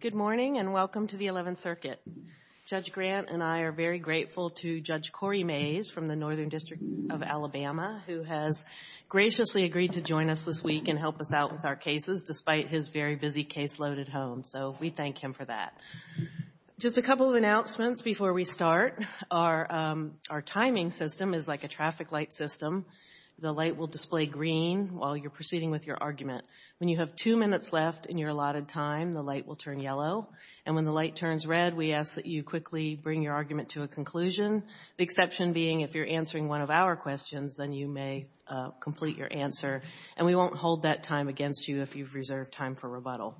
Good morning and welcome to the 11th Circuit. Judge Grant and I are very grateful to Judge Corey Mays from the Northern District of Alabama who has graciously agreed to join us this week and help us out with our cases despite his very busy caseload at home, so we thank him for that. Just a couple of announcements before we start. Our timing system is like a traffic light system. The light will display green while you're proceeding with your argument. When you have two minutes left in your allotted time, the light will turn yellow, and when the light turns red, we ask that you quickly bring your argument to a conclusion, the exception being if you're answering one of our questions, then you may complete your answer, and we won't hold that time against you if you've reserved time for rebuttal.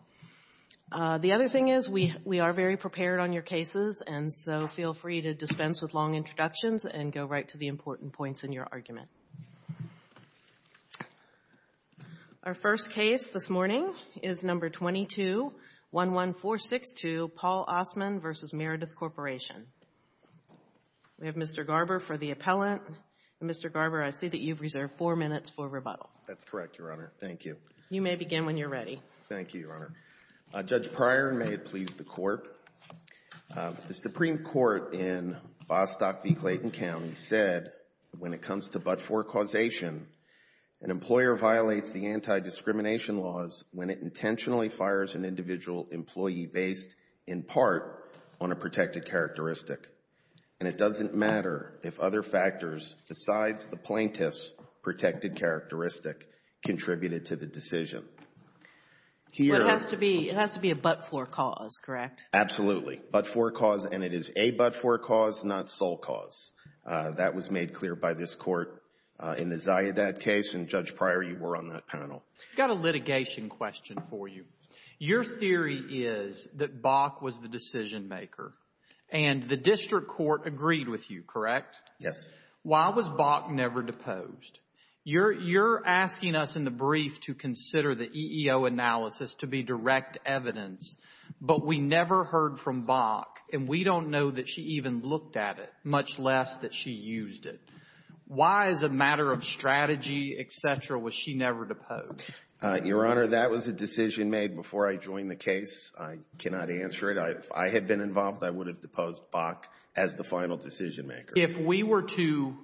The other thing is we are very prepared on your cases, and so feel free to dispense with long introductions and go right to the important points in your argument. Our first case this morning is No. 2211462, Paul Ossmann v. Meredith Corporation. We have Mr. Garber for the appellant. Mr. Garber, I see that you've reserved four minutes for rebuttal. Garber That's correct, Your Honor. Thank you. Kagan You may begin when you're ready. Garber Thank you, Your Honor. Judge Pryor, and may it please the Court, the Supreme Court in Bostock v. Clayton County said when it comes to but-for causation, an employer violates the anti-discrimination laws when it intentionally fires an individual employee based in part on a protected characteristic, and it doesn't matter if other factors besides the plaintiff's Here Kagan It has to be a but-for cause, correct? Garber Absolutely. But-for cause, and it is a but-for cause, not sole cause. That was made clear by this Court in the Ziadad case, and, Judge Pryor, you were on that panel. Kagan I've got a litigation question for you. Your theory is that Bach was the decision-maker, and the district court agreed with you, correct? Garber Yes. Kagan Why was Bach never deposed? You're asking us in the brief to consider the EEO analysis to be direct evidence, but we never heard from Bach, and we don't know that she even looked at it, much less that she used it. Why as a matter of strategy, et cetera, was she never deposed? Garber Your Honor, that was a decision made before I joined the case. I cannot answer it. If I had been involved, I would have deposed Bach as the final decision-maker. If we were to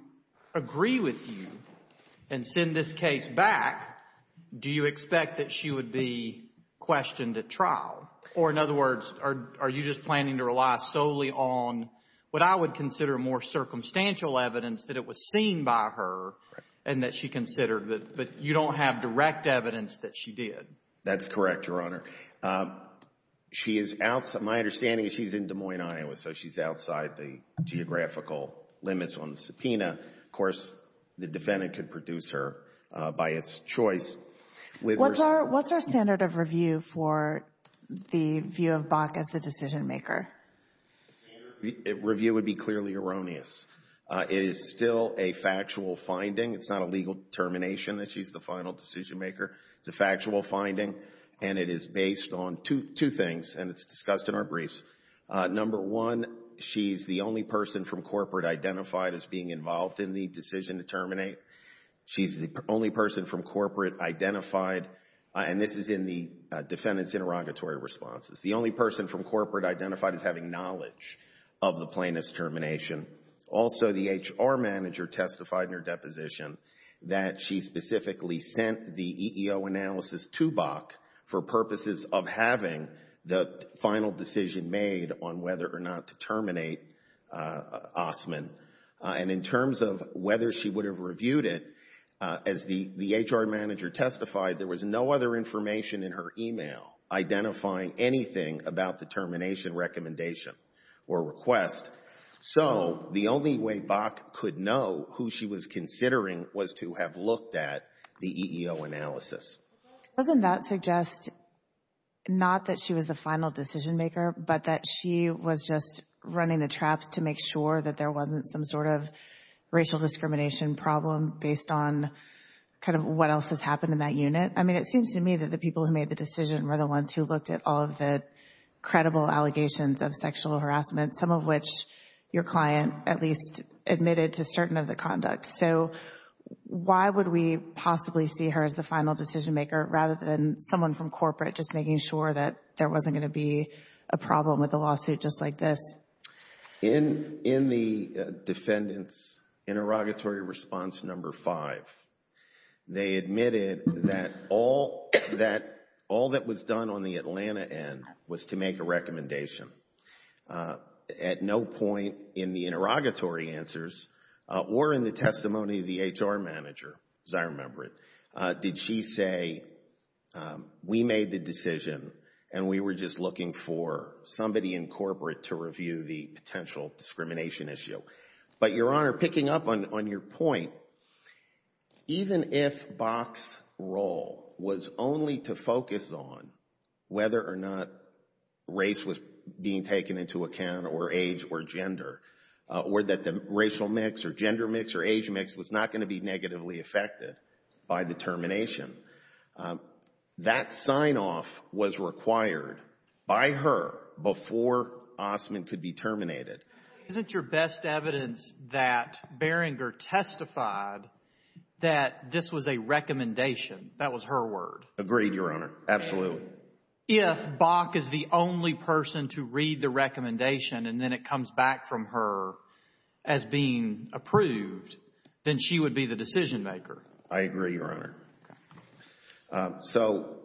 agree with you and send this case back, do you expect that she would be questioned at trial? Or in other words, are you just planning to rely solely on what I would consider more circumstantial evidence that it was seen by her, and that she considered, but you don't have direct evidence that she did? Garber That's correct, Your Honor. My understanding is she's in Des Moines, Iowa, so she's outside the geographical limits on the subpoena. Of course, the defendant could produce her by its choice. Kagan What's our standard of review for the view of Bach as the decision-maker? Garber Review would be clearly erroneous. It is still a factual finding. It's not a legal determination that she's the final decision-maker. It's a factual finding, and it is based on two things, and it's discussed in our briefs. Number one, she's the only person from corporate identified as being involved in the decision to terminate. She's the only person from corporate identified, and this is in the defendant's interrogatory responses. The only person from corporate identified as having knowledge of the plaintiff's termination. Also, the HR manager testified in her deposition that she specifically sent the EEO analysis to Bach for purposes of having the final decision made on whether or not to terminate Ostman. And in terms of whether she would have reviewed it, as the HR manager testified, there was no other information in her email identifying anything about the termination recommendation or request. So, the only way Bach could know who she was considering was to have looked at the EEO analysis. Doesn't that suggest, not that she was the final decision-maker, but that she was just running the traps to make sure that there wasn't some sort of racial discrimination problem based on kind of what else has happened in that unit? I mean, it seems to me that the people who made the decision were the ones who looked at all of the credible allegations of sexual harassment, some of which your client at least admitted to certain of the conducts. So, why would we possibly see her as the final decision-maker rather than someone from corporate just making sure that there wasn't going to be a problem with a lawsuit just like this? In the defendant's interrogatory response number five, they admitted that all that was done on the Atlanta end was to make a recommendation. At no point in the interrogatory answers or in the testimony of the HR manager, as I remember it, did she say, we made the decision and we were just looking for somebody in corporate to review the potential discrimination issue. But your Honor, picking up on your point, even if Bach's role was only to focus on whether or not race was being taken into account or age or gender, or that the racial mix or gender mix or age mix was not going to be negatively affected by the termination, that sign-off was required by her before Ostman could be terminated. Isn't your best evidence that Beringer testified that this was a recommendation? That was her word. Agreed, Your Honor. Absolutely. If Bach is the only person to read the recommendation and then it comes back from her as being approved, then she would be the decision-maker. I agree, Your Honor. So,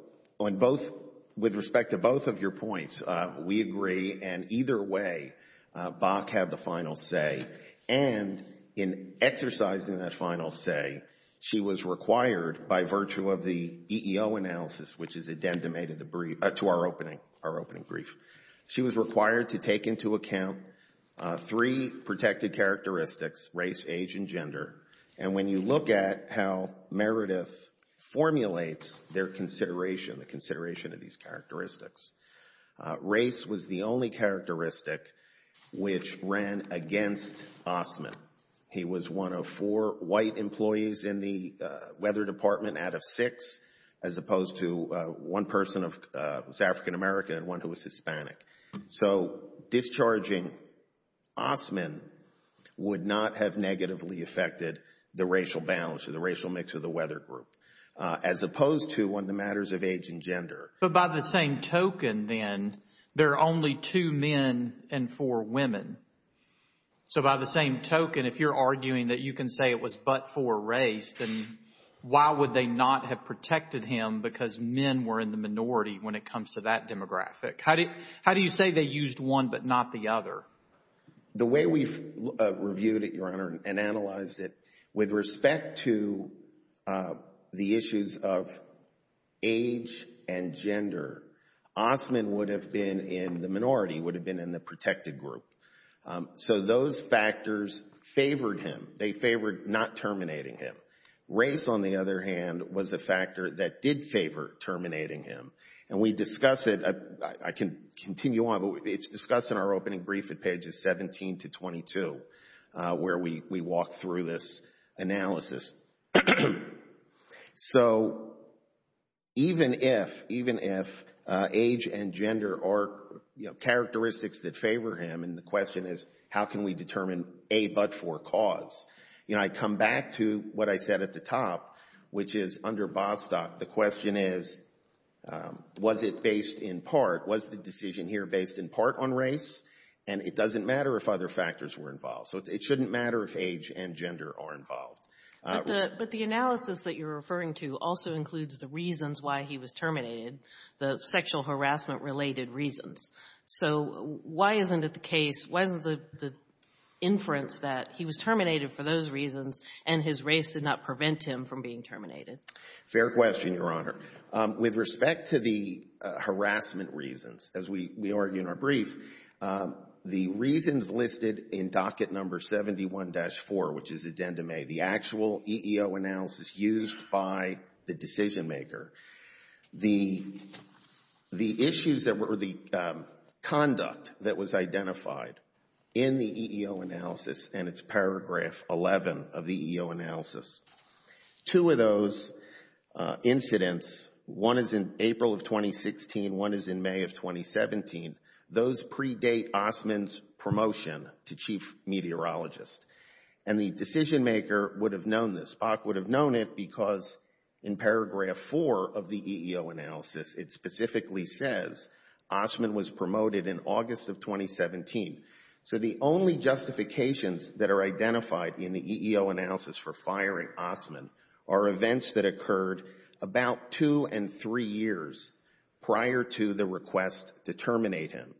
with respect to both of your points, we agree, and either way, Bach had the final say, and in exercising that final say, she was required by virtue of the EEO analysis, which is addendum to our opening brief, she was required to take into account three protected characteristics, race, age, and gender. And when you look at how Meredith formulates their consideration, the consideration of these characteristics, race was the only characteristic which ran against Ostman. He was one of four white employees in the weather department out of six, as opposed to one person who was African American and one who was Hispanic. So, discharging Ostman would not have negatively affected the racial balance or the racial mix of the weather group, as opposed to on the matters of age and gender. But by the same token, then, there are only two men and four women. So by the same token, if you're arguing that you can say it was but for race, then why would they not have protected him because men were in the minority when it comes to that demographic? How do you say they used one but not the other? The way we've reviewed it, Your Honor, and analyzed it, with respect to the issues of age and gender, Ostman would have been in the minority, would have been in the protected group. So, those factors favored him. They favored not terminating him. Race, on the other hand, was a factor that did favor terminating him. And we discuss it, I can continue on, but it's discussed in our opening brief at pages 17 to 22, where we walk through this analysis. So, even if age and gender are characteristics that favor him, and the question is, how can we determine a but for cause, you know, I come back to what I said at the top, which is under Bostock, the question is, was it based in part, was the decision here based in part on race? And it doesn't matter if other factors were involved. So, it shouldn't matter if age and gender are involved. But the analysis that you're referring to also includes the reasons why he was terminated, the sexual harassment-related reasons. So, why isn't it the case, why isn't the inference that he was terminated for those reasons and his race did not prevent him from being terminated? Fair question, Your Honor. With respect to the harassment reasons, as we argue in our brief, the reasons listed in docket number 71-4, which is addendum A, the actual EEO analysis used by the decision maker, the issues that were the conduct that was identified in the EEO analysis and it's EEO analysis, two of those incidents, one is in April of 2016, one is in May of 2017, those predate Ostman's promotion to chief meteorologist. And the decision maker would have known this, Spock would have known it because in paragraph 4 of the EEO analysis, it specifically says Ostman was promoted in August of 2017. So the only justifications that are identified in the EEO analysis for firing Ostman are events that occurred about two and three years prior to the request to terminate him.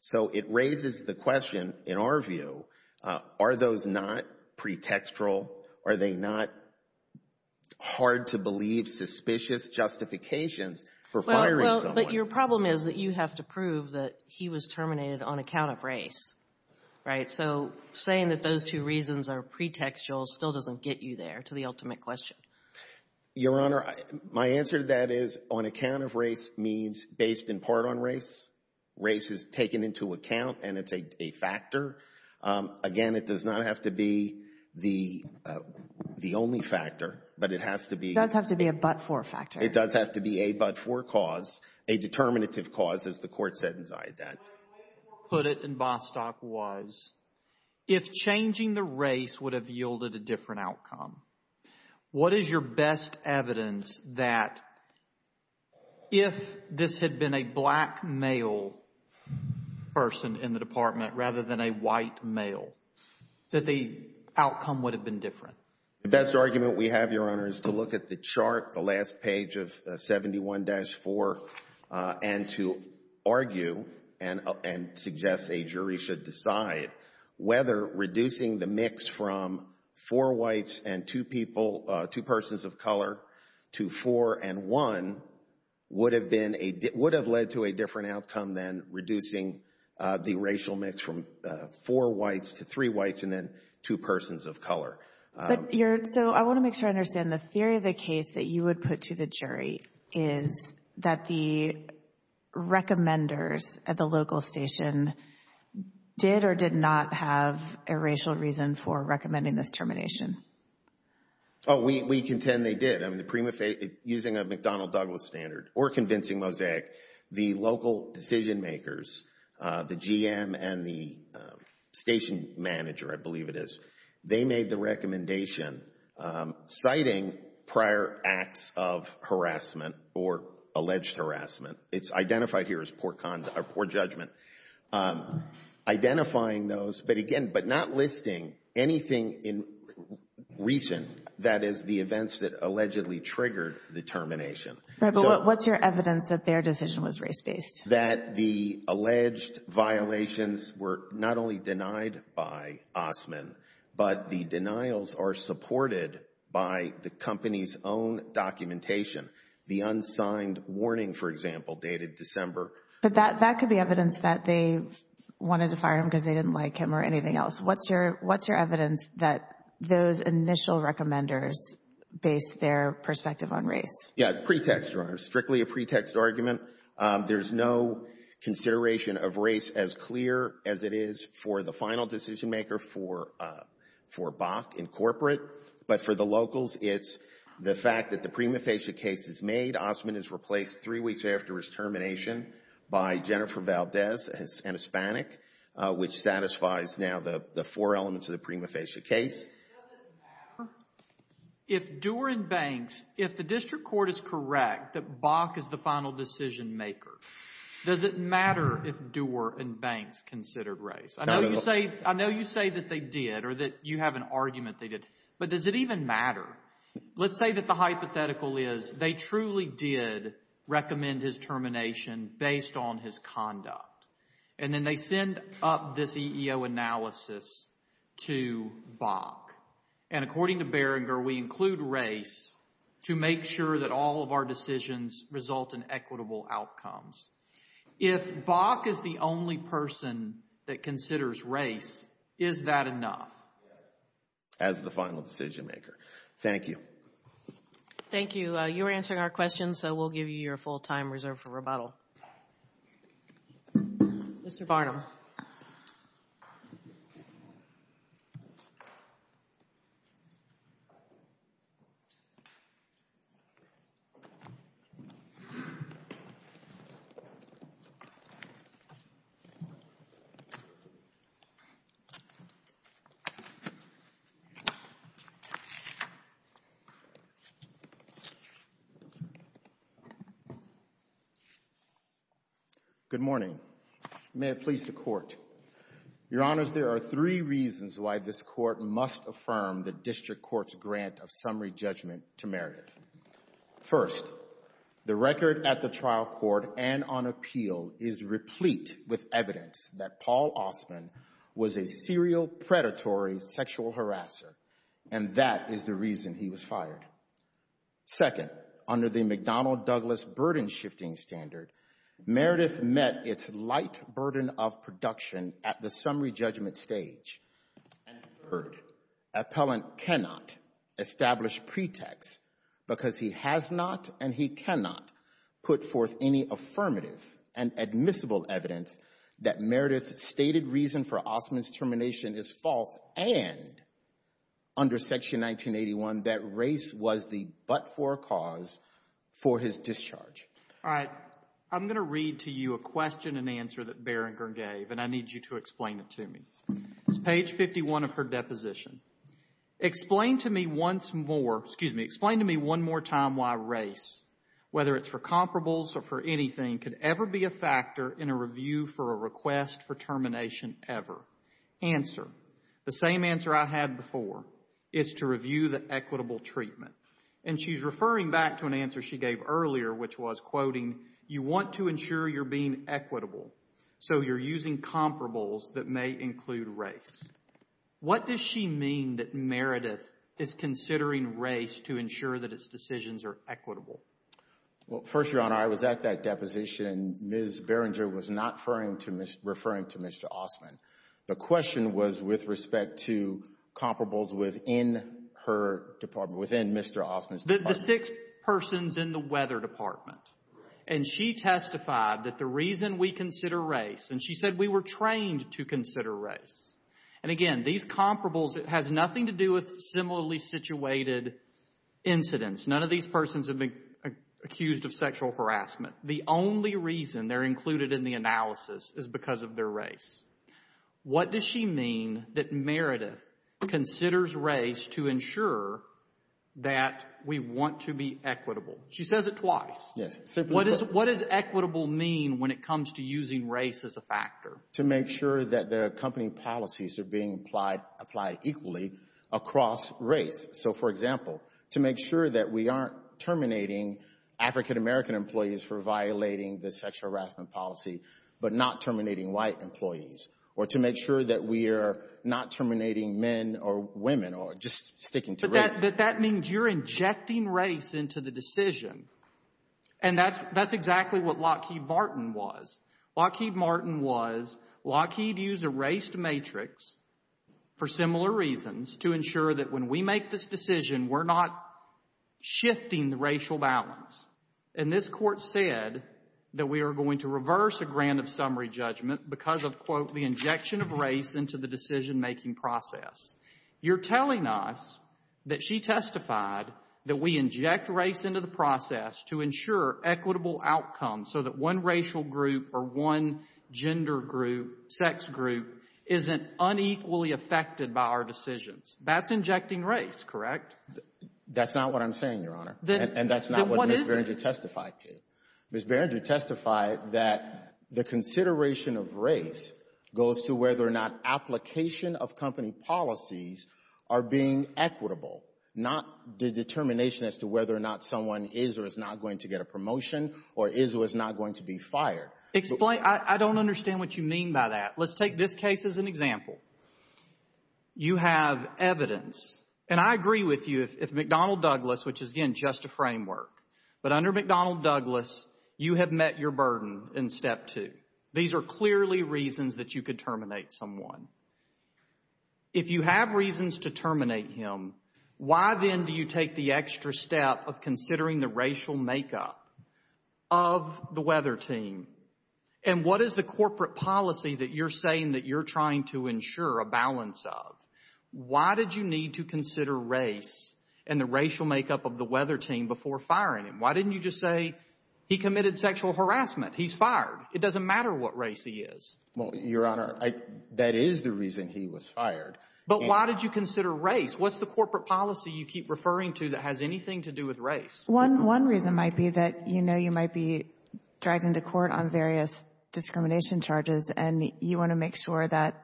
So it raises the question, in our view, are those not pretextual? Are they not hard-to-believe, suspicious justifications for firing someone? Your problem is that you have to prove that he was terminated on account of race, right? So saying that those two reasons are pretextual still doesn't get you there, to the ultimate question. Your Honor, my answer to that is on account of race means based in part on race. Race is taken into account and it's a factor. Again, it does not have to be the only factor, but it has to be. It does have to be a but-for factor. It does have to be a but-for cause, a determinative cause, as the Court said inside that. My way of putting it in Bostock was, if changing the race would have yielded a different outcome, what is your best evidence that if this had been a black male person in the Department rather than a white male, that the outcome would have been different? The best argument we have, Your Honor, is to look at the chart, the last page of 71-4, and to argue and suggest a jury should decide whether reducing the mix from four whites and two people, two persons of color, to four and one would have been, would have led to a different outcome than reducing the racial mix from four whites to three whites and then two persons of color. But you're, so I want to make sure I understand the theory of the case that you would put to the jury is that the recommenders at the local station did or did not have a racial reason for recommending this termination? Oh, we contend they did. I mean, the prima facie, using a McDonnell Douglas standard or convincing mosaic, the they made the recommendation citing prior acts of harassment or alleged harassment. It's identified here as poor judgment. Identifying those, but again, but not listing anything in recent, that is, the events that allegedly triggered the termination. Right, but what's your evidence that their decision was race-based? That the alleged violations were not only denied by Osman, but the denials are supported by the company's own documentation. The unsigned warning, for example, dated December. But that could be evidence that they wanted to fire him because they didn't like him or anything else. What's your, what's your evidence that those initial recommenders based their perspective on race? Yeah, pretext, Your Honor. Strictly a pretext argument. There's no consideration of race as clear as it is for the final decision-maker for Bach and corporate. But for the locals, it's the fact that the prima facie case is made. Osman is replaced three weeks after his termination by Jennifer Valdez, an Hispanic, which satisfies now the four elements of the prima facie case. Does it matter if Dewer and Banks, if the district court is correct that Bach is the final decision-maker, does it matter if Dewer and Banks considered race? I know you say, I know you say that they did or that you have an argument they did. But does it even matter? Let's say that the hypothetical is they truly did recommend his termination based on his conduct. And then they send up this EEO analysis to Bach. And according to Berenger, we include race to make sure that all of our decisions result in equitable outcomes. If Bach is the only person that considers race, is that enough as the final decision-maker? Thank you. Thank you. You're answering our questions, so we'll give you your full time reserved for rebuttal. Mr. Barnum. Thank you, Your Honor. Good morning. Good morning. May it please the Court. Your Honors, there are three reasons why this Court must affirm the district court's grant of summary judgment to Meredith. First, the record at the trial court and on appeal is replete with evidence that Paul Osman was a serial predatory sexual harasser, and that is the reason he was fired. Second, under the McDonnell-Douglas burden-shifting standard, Meredith met its light burden of production at the summary judgment stage. And third, appellant cannot establish pretext because he has not and he cannot put forth any affirmative and admissible evidence that Meredith's stated reason for Osman's termination is false and, under Section 1981, that race was the but-for cause for his discharge. All right. I'm going to read to you a question and answer that Barringer gave, and I need you to explain it to me. It's page 51 of her deposition. Explain to me once more, excuse me, explain to me one more time why race, whether it's for comparables or for anything, could ever be a factor in a review for a request for termination ever. Answer. The same answer I had before is to review the equitable treatment. And she's referring back to an answer she gave earlier, which was, quoting, you want to ensure you're being equitable, so you're using comparables that may include race. What does she mean that Meredith is considering race to ensure that its decisions are equitable? Well, first, Your Honor, I was at that deposition. Ms. Barringer was not referring to Mr. Osman. The question was with respect to comparables within her department, within Mr. Osman's department. The six persons in the weather department. And she testified that the reason we consider race, and she said we were trained to consider race. And, again, these comparables, it has nothing to do with similarly situated incidents. None of these persons have been accused of sexual harassment. The only reason they're included in the analysis is because of their race. What does she mean that Meredith considers race to ensure that we want to be equitable? She says it twice. Yes. Simply put. What does equitable mean when it comes to using race as a factor? To make sure that the company policies are being applied equally across race. So, for example, to make sure that we aren't terminating African-American employees for violating the sexual harassment policy, but not terminating white employees. Or to make sure that we are not terminating men or women or just sticking to race. But that means you're injecting race into the decision. And that's exactly what Lockheed Martin was. Lockheed Martin was, Lockheed used a race matrix for similar reasons to ensure that when we make this decision, we're not shifting the racial balance. And this Court said that we are going to reverse a grand of summary judgment because of, quote, the injection of race into the decision-making process. You're telling us that she testified that we inject race into the process to ensure equitable outcomes so that one racial group or one gender group, sex group, isn't unequally affected by our decisions. That's injecting race, correct? That's not what I'm saying, Your Honor. And that's not what Ms. Beringer testified to. Ms. Beringer testified that the consideration of race goes to whether or not application of company policies are being equitable, not the determination as to whether or not someone is or is not going to get a promotion or is or is not going to be fired. Explain, I don't understand what you mean by that. Let's take this case as an example. You have evidence, and I agree with you if McDonnell Douglas, which is, again, just a framework, but under McDonnell Douglas, you have met your burden in step two. These are clearly reasons that you could terminate someone. If you have reasons to terminate him, why then do you take the extra step of considering the racial makeup of the weather team? And what is the corporate policy that you're saying that you're trying to ensure a balance of? Why did you need to consider race and the racial makeup of the weather team before firing him? Why didn't you just say he committed sexual harassment? He's fired. It doesn't matter what race he is. Well, Your Honor, that is the reason he was fired. But why did you consider race? What's the corporate policy you keep referring to that has anything to do with race? One reason might be that you know you might be dragged into court on various discrimination charges, and you want to make sure that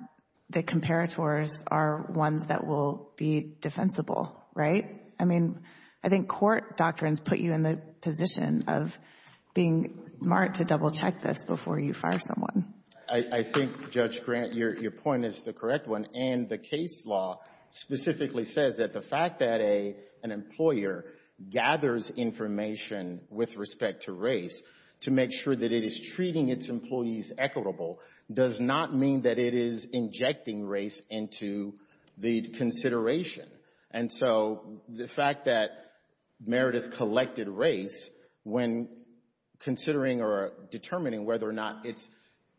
the comparators are ones that will be defensible, right? I mean, I think court doctrines put you in the position of being smart to double-check this before you fire someone. I think, Judge Grant, your point is the correct one, and the case law specifically says that the fact that an employer gathers information with respect to race to make sure that it is treating its employees equitable does not mean that it is injecting race into the consideration. And so the fact that Meredith collected race when considering or determining whether or not its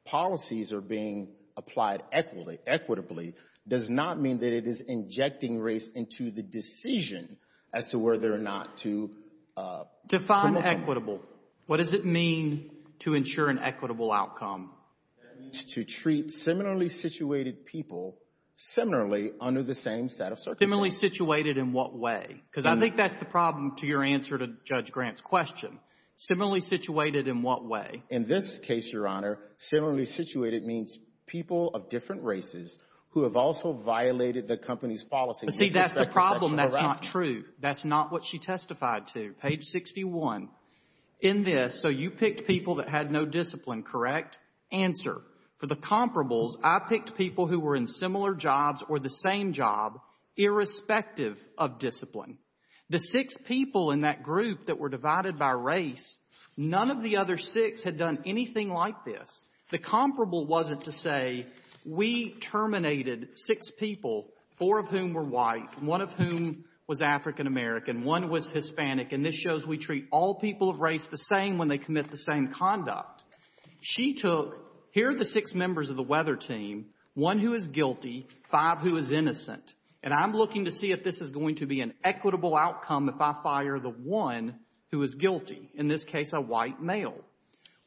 policies are being applied equitably does not mean that it is injecting race into the decision as to whether or not to promote them. Define equitable. What does it mean to ensure an equitable outcome? That means to treat similarly situated people similarly under the same set of circumstances. Similarly situated in what way? Because I think that's the problem to your answer to Judge Grant's question. Similarly situated in what way? In this case, Your Honor, similarly situated means people of different races who have also violated the company's policy. See, that's the problem. That's not true. That's not what she testified to. Page 61. In this, so you picked people that had no discipline, correct? Answer. For the comparables, I picked people who were in similar jobs or the same job irrespective of discipline. The six people in that group that were divided by race, none of the other six had done anything like this. The comparable wasn't to say we terminated six people, four of whom were white, one of whom was African American, one was Hispanic, and this shows we treat all people of race the same when they commit the same conduct. She took, here are the six members of the weather team, one who is guilty, five who is innocent, and I'm looking to see if this is going to be an equitable outcome if I fire the one who is guilty, in this case a white male.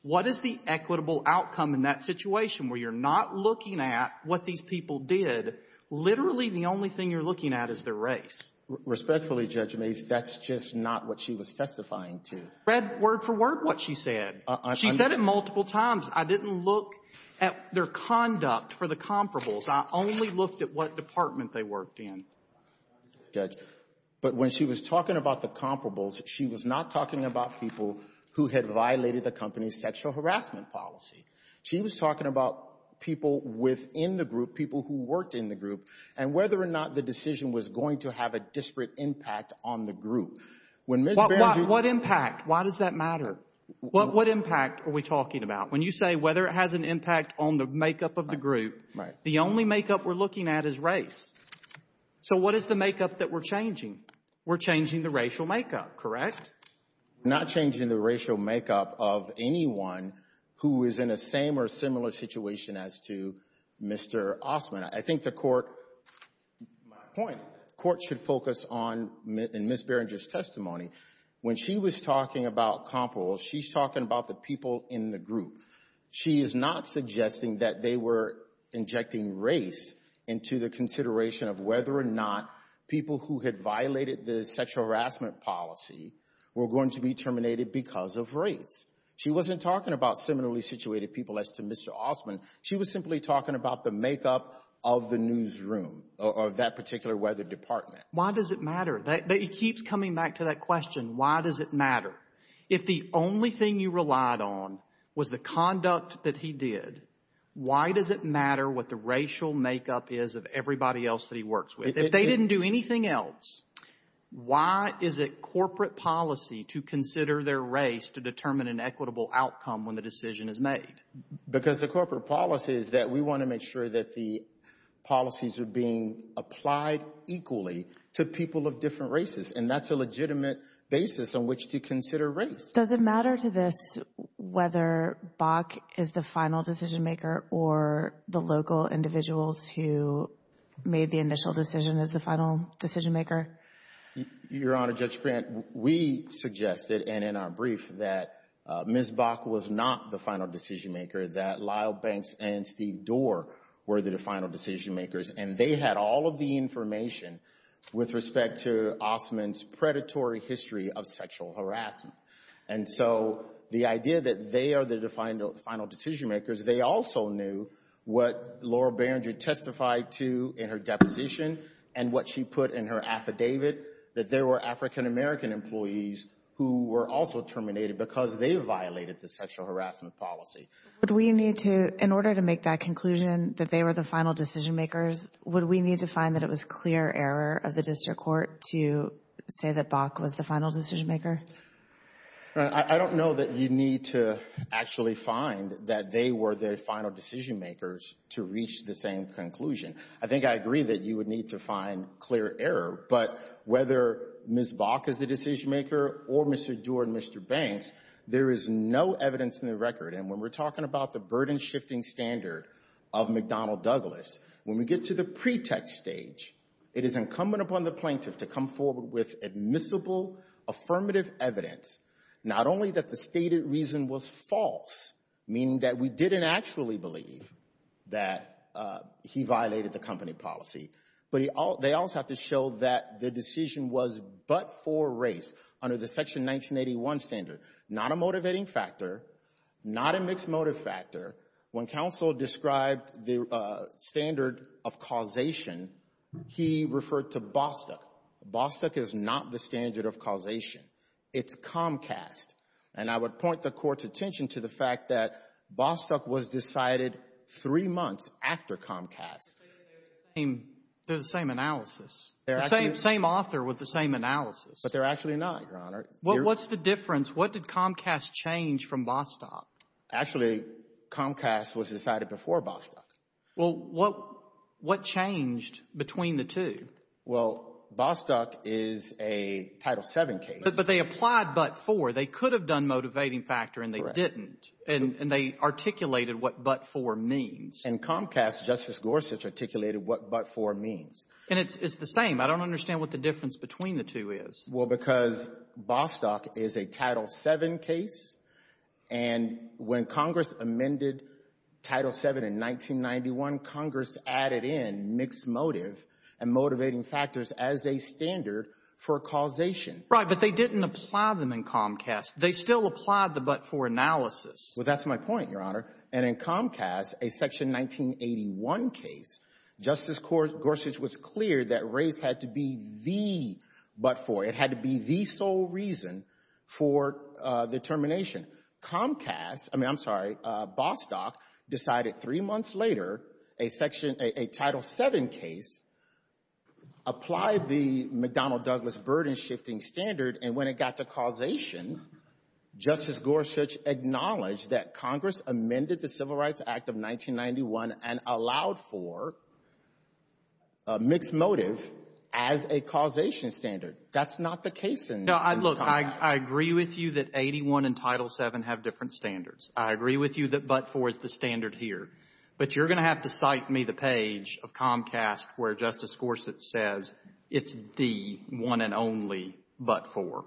What is the equitable outcome in that situation where you're not looking at what these people did? Literally, the only thing you're looking at is their race. Respectfully, Judge Mase, that's just not what she was testifying to. Read word for word what she said. She said it multiple times. I didn't look at their conduct for the comparables. I only looked at what department they worked in. Judge, but when she was talking about the comparables, she was not talking about people who had violated the company's sexual harassment policy. She was talking about people within the group, people who worked in the group, and whether or not the decision was going to have a disparate impact on the group. When Ms. Banger... What impact? Why does that matter? What impact are we talking about? When you say whether it has an impact on the makeup of the group, the only makeup we're looking at is race. So what is the makeup that we're changing? We're changing the racial makeup, correct? Correct. We're not changing the racial makeup of anyone who is in the same or similar situation as to Mr. Ostman. I think the court, my point, the court should focus on, in Ms. Barringer's testimony, when she was talking about comparables, she's talking about the people in the group. She is not suggesting that they were injecting race into the consideration of whether or not people who had violated the sexual harassment policy were going to be terminated because of race. She wasn't talking about similarly situated people as to Mr. Ostman. She was simply talking about the makeup of the newsroom, of that particular weather department. Why does it matter? He keeps coming back to that question, why does it matter? If the only thing you relied on was the conduct that he did, why does it matter what the racial makeup is of everybody else that he works with? If they didn't do anything else, why is it corporate policy to consider their race to determine an equitable outcome when the decision is made? Because the corporate policy is that we want to make sure that the policies are being applied equally to people of different races and that's a legitimate basis on which to consider race. Does it matter to this whether Bach is the final decision maker or the local individuals who made the initial decision as the final decision maker? Your Honor, Judge Brandt, we suggested, and in our brief, that Ms. Bach was not the final decision maker, that Lyle Banks and Steve Doerr were the final decision makers. They had all of the information with respect to Ostman's predatory history of sexual harassment. The idea that they are the final decision makers, they also knew what Laura Beringer testified to in her deposition and what she put in her affidavit, that there were African American employees who were also terminated because they violated the sexual harassment policy. Would we need to, in order to make that conclusion that they were the final decision makers, would we need to find that it was clear error of the district court to say that Bach was the final decision maker? I don't know that you need to actually find that they were the final decision makers to reach the same conclusion. I think I agree that you would need to find clear error, but whether Ms. Bach is the decision maker or Mr. Doerr and Mr. Banks, there is no evidence in the record, and when we're talking about the burden-shifting standard of McDonnell Douglas, when we get to the pretext stage, it is incumbent upon the plaintiff to come forward with admissible, affirmative evidence, not only that the stated reason was false, meaning that we didn't actually believe that he violated the company policy, but they also have to show that the decision was but for race under the Section 1981 standard, not a motivating factor, not a mixed motive factor. When counsel described the standard of causation, he referred to Bostock. Bostock is not the standard of causation. It's Comcast. And I would point the Court's attention to the fact that Bostock was decided three months after Comcast. They're the same analysis, the same author with the same analysis. But they're actually not, Your Honor. What's the difference? What did Comcast change from Bostock? Actually Comcast was decided before Bostock. Well, what changed between the two? Well, Bostock is a Title VII case. But they applied but for. They could have done motivating factor, and they didn't. And they articulated what but for means. And Comcast, Justice Gorsuch, articulated what but for means. And it's the same. I don't understand what the difference between the two is. Well, because Bostock is a Title VII case, and when Congress amended Title VII in 1991, Congress added in mixed motive and motivating factors as a standard for causation. Right, but they didn't apply them in Comcast. They still applied the but for analysis. Well, that's my point, Your Honor. And in Comcast, a Section 1981 case, Justice Gorsuch was clear that race had to be the but for. It had to be the sole reason for the termination. Comcast, I mean, I'm sorry, Bostock decided three months later, a Title VII case, applied the McDonnell-Douglas burden-shifting standard, and when it got to causation, Justice Gorsuch acknowledged that Congress amended the Civil Rights Act of 1991 and allowed for a mixed motive as a causation standard. That's not the case in Comcast. No, look, I agree with you that 81 and Title VII have different standards. I agree with you that but for is the standard here. But you're going to have to cite me the page of Comcast where Justice Gorsuch says it's the one and only but for.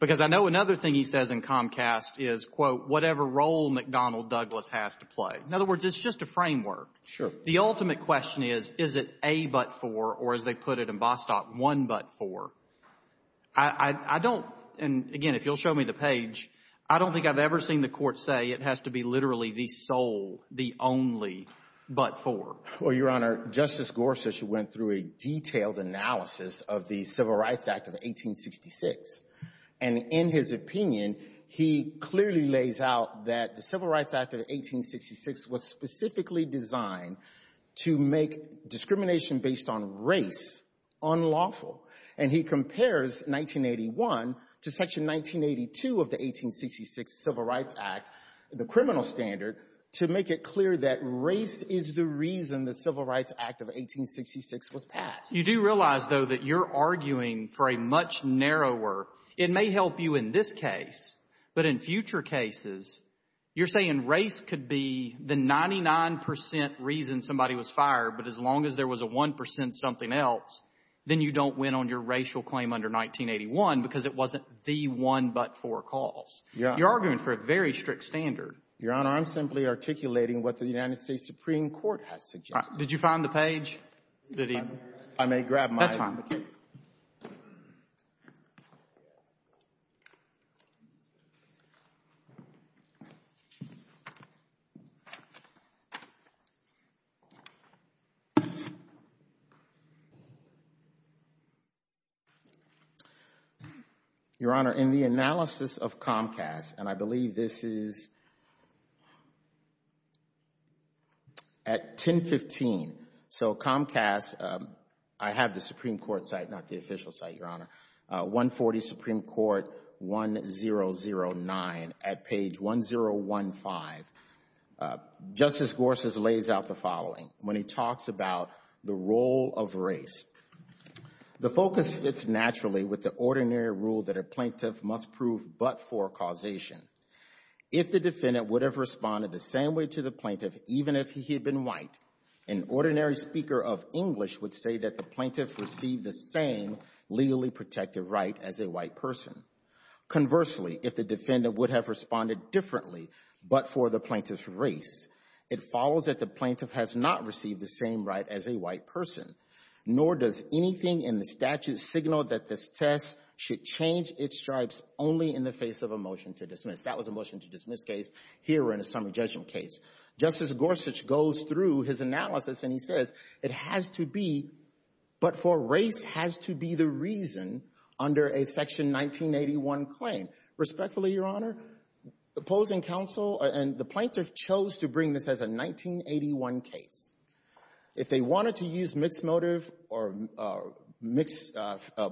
Because I know another thing he says in Comcast is, quote, whatever role McDonnell-Douglas has to play. In other words, it's just a framework. Sure. The ultimate question is, is it a but for or, as they put it in Bostock, one but for? I don't, and again, if you'll show me the page, I don't think I've ever seen the court say it has to be literally the sole, the only but for. Well, Your Honor, Justice Gorsuch went through a detailed analysis of the Civil Rights Act of 1866. And in his opinion, he clearly lays out that the Civil Rights Act of 1866 was specifically designed to make discrimination based on race unlawful. And he compares 1981 to Section 1982 of the 1866 Civil Rights Act, the criminal standard, to make it clear that race is the reason the Civil Rights Act of 1866 was passed. You do realize, though, that you're arguing for a much narrower, it may help you in this case, but in future cases, you're saying race could be the 99 percent reason somebody was in on your racial claim under 1981, because it wasn't the one but for cause. Yeah. You're arguing for a very strict standard. Your Honor, I'm simply articulating what the United States Supreme Court has suggested. Did you find the page that he – I may grab my – That's fine. Your Honor, in the analysis of Comcast, and I believe this is at 1015, so Comcast, I have the Supreme Court site, not the official site, Your Honor, 140 Supreme Court 1009 at page 1015, Justice Gorsuch lays out the following when he talks about the role of race. The focus fits naturally with the ordinary rule that a plaintiff must prove but for causation. If the defendant would have responded the same way to the plaintiff, even if he had been white, an ordinary speaker of English would say that the plaintiff received the same legally protected right as a white person. Conversely, if the defendant would have responded differently but for the plaintiff's race, it follows that the plaintiff has not received the same right as a white person, nor does anything in the statute signal that this test should change its stripes only in the face of a motion to dismiss. That was a motion to dismiss case. Here we're in a summary judgment case. Justice Gorsuch goes through his analysis and he says it has to be, but for race has to be the reason under a Section 1981 claim. Respectfully, Your Honor, opposing counsel and the plaintiff chose to bring this as a 1981 case. If they wanted to use mixed motive or mixed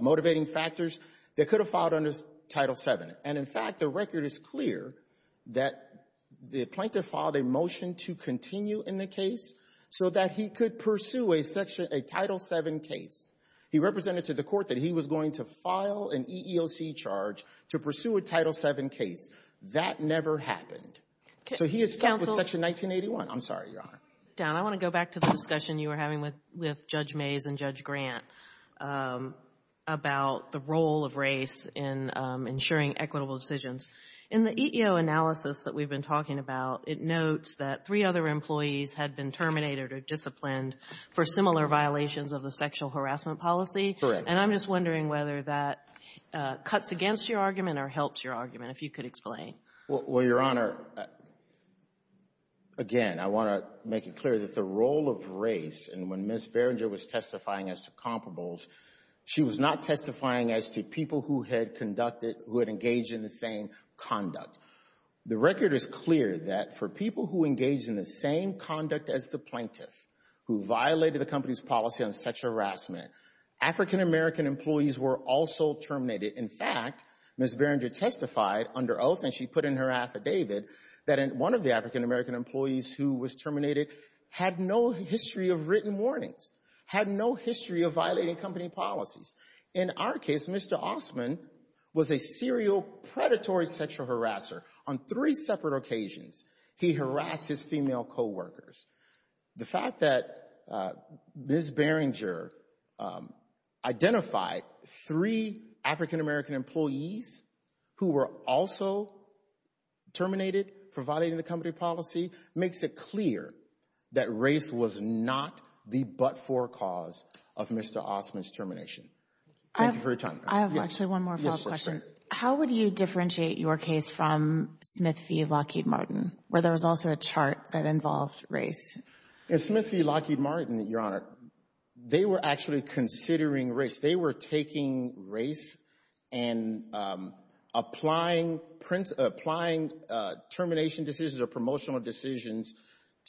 motivating factors, they could have filed under Title VII. And in fact, the record is clear that the plaintiff filed a motion to continue in the case so that he could pursue a Title VII case. He represented to the court that he was going to file an EEOC charge to pursue a Title VII case. That never happened. So he has stuck with Section 1981. I'm sorry, Your Honor. Ms. Brown. I want to go back to the discussion you were having with Judge Mays and Judge Grant about the role of race in ensuring equitable decisions. In the EEO analysis that we've been talking about, it notes that three other employees had been terminated or disciplined for similar violations of the sexual harassment policy. Correct. And I'm just wondering whether that cuts against your argument or helps your argument, if you could explain. Well, Your Honor, again, I want to make it clear that the role of race, and when Ms. Berenger was testifying as to comparables, she was not testifying as to people who had conducted, who had engaged in the same conduct. The record is clear that for people who engaged in the same conduct as the plaintiff who violated the company's policy on sexual harassment, African-American employees were also terminated. In fact, Ms. Berenger testified under oath, and she put in her affidavit, that one of the African-American employees who was terminated had no history of written warnings, had no history of violating company policies. In our case, Mr. Osman was a serial, predatory sexual harasser. On three separate occasions, he harassed his female co-workers. The fact that Ms. Berenger identified three African-American employees who were also terminated for violating the company policy makes it clear that race was not the but-for cause of Mr. Osman's termination. Thank you for your time. I have actually one more follow-up question. How would you differentiate your case from Smith v. Lockheed Martin, where there was also a chart that involved race? In Smith v. Lockheed Martin, Your Honor, they were actually considering race. They were taking race and applying termination decisions or promotional decisions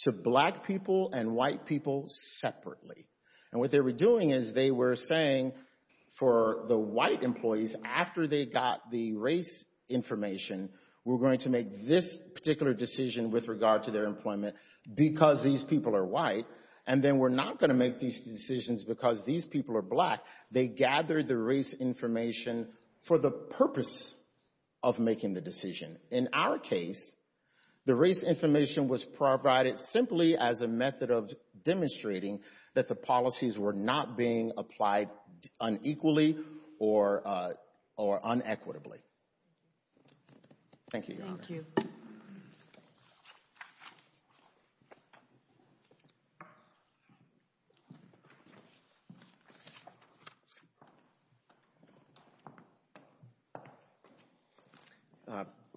to black people and white people separately. And what they were doing is they were saying for the white employees, after they got the race information, we're going to make this particular decision with regard to their employment because these people are white, and then we're not going to make these decisions because these people are black. They gathered the race information for the purpose of making the decision. In our case, the race information was provided simply as a method of demonstrating that the policies were not being applied unequally or unequitably. Thank you, Your Honor. Thank you. Thank you.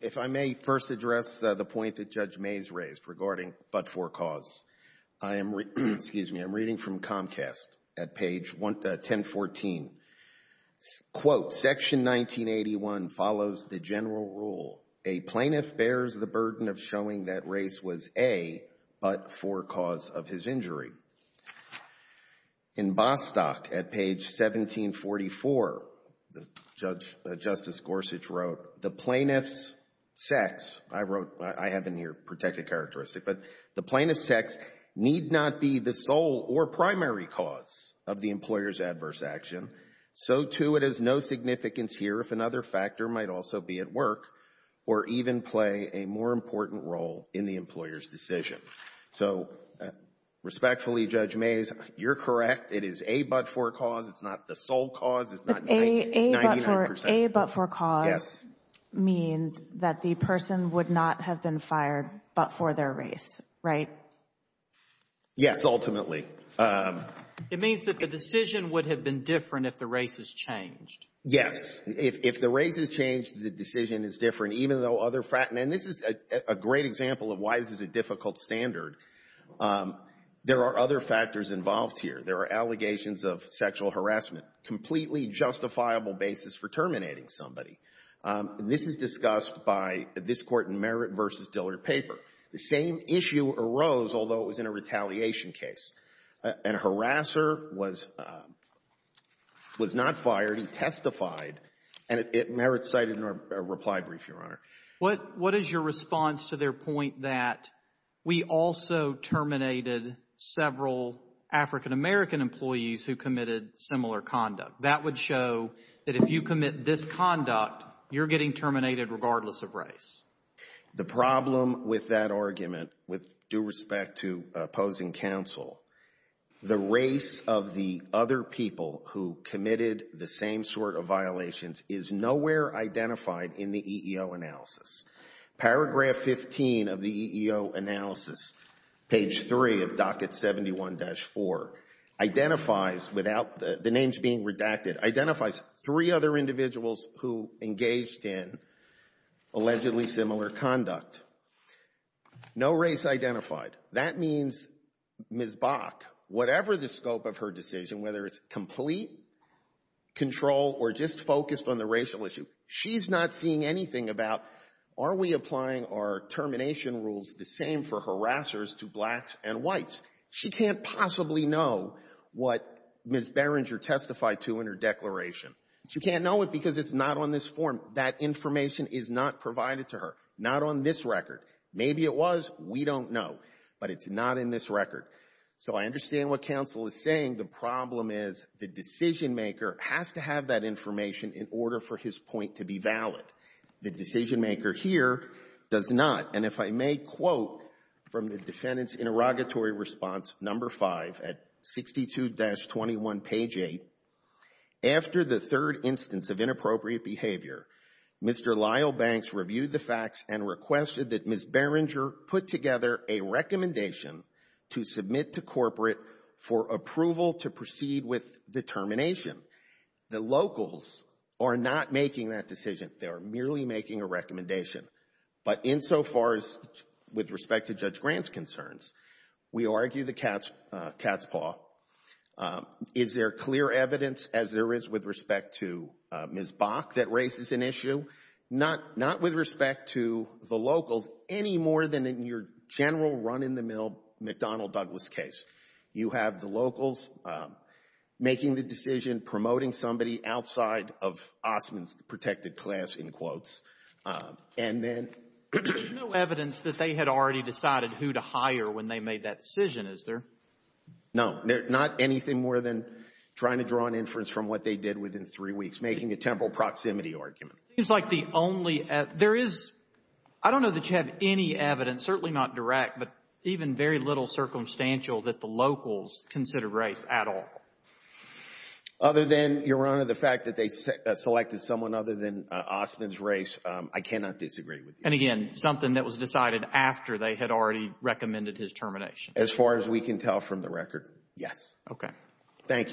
If I may first address the point that Judge Mays raised regarding but-for cause. I am reading from Comcast at page 1014, quote, Section 1981 follows the general rule, a plaintiff bears the burden of showing that race was a but-for cause of his injury. In Bostock at page 1744, Justice Gorsuch wrote, the plaintiff's sex, I wrote, I have in here protected characteristic, but the plaintiff's sex need not be the sole or primary cause of the employer's adverse action. So too it has no significance here if another factor might also be at work or even play a more important role in the employer's decision. So respectfully, Judge Mays, you're correct. It is a but-for cause. It's not the sole cause. It's not 99 percent. But a but-for cause means that the person would not have been fired but for their race, right? Yes, ultimately. It means that the decision would have been different if the race has changed. Yes. If the race has changed, the decision is different, even though other factors And this is a great example of why this is a difficult standard. There are other factors involved here. There are allegations of sexual harassment, completely justifiable basis for terminating somebody. This is discussed by this Court in Merritt v. Dillard paper. The same issue arose, although it was in a retaliation case. And a harasser was not fired. He testified. And Merritt cited in a reply brief, Your Honor. What is your response to their point that we also terminated several African-American employees who committed similar conduct? That would show that if you commit this conduct, you're getting terminated regardless of race. The problem with that argument, with due respect to opposing counsel, the race of the other people who committed the same sort of violations is nowhere identified in the EEO analysis. Paragraph 15 of the EEO analysis, page 3 of Docket 71-4, identifies without the names being redacted, identifies three other individuals who engaged in allegedly similar conduct. No race identified. That means Ms. Bach, whatever the scope of her decision, whether it's complete control or just focused on the racial issue, she's not seeing anything about, are we applying our termination rules the same for harassers to blacks and whites? She can't possibly know what Ms. Berenger testified to in her declaration. She can't know it because it's not on this form. That information is not provided to her, not on this record. Maybe it was. We don't know. But it's not in this record. So I understand what counsel is saying. The problem is the decisionmaker has to have that information in order for his point to be valid. The decisionmaker here does not. And if I may quote from the defendant's interrogatory response, number 5, at 62-21, page 8, after the third instance of inappropriate behavior, Mr. Lyle Banks reviewed the facts and requested that Ms. Berenger put together a recommendation to submit to corporate for approval to proceed with the termination. The locals are not making that decision. They are merely making a recommendation. But insofar as with respect to Judge Grant's concerns, we argue the cat's paw. Is there clear evidence, as there is with respect to Ms. Bach, that raises an issue? Not with respect to the locals any more than in your general run-in-the-mill McDonnell-Douglas case. You have the locals making the decision, promoting somebody outside of Ostman's protected class, in quotes. There's no evidence that they had already decided who to hire when they made that decision, is there? No. Not anything more than trying to draw an inference from what they did within three weeks, making a temporal proximity argument. It seems like the only... There is... I don't know that you have any evidence, certainly not direct, but even very little circumstantial that the locals consider race at all. Other than, Your Honor, the fact that they selected someone other than Ostman's race, I cannot disagree with you. And again, something that was decided after they had already recommended his termination? As far as we can tell from the record, yes. Okay. Thank you.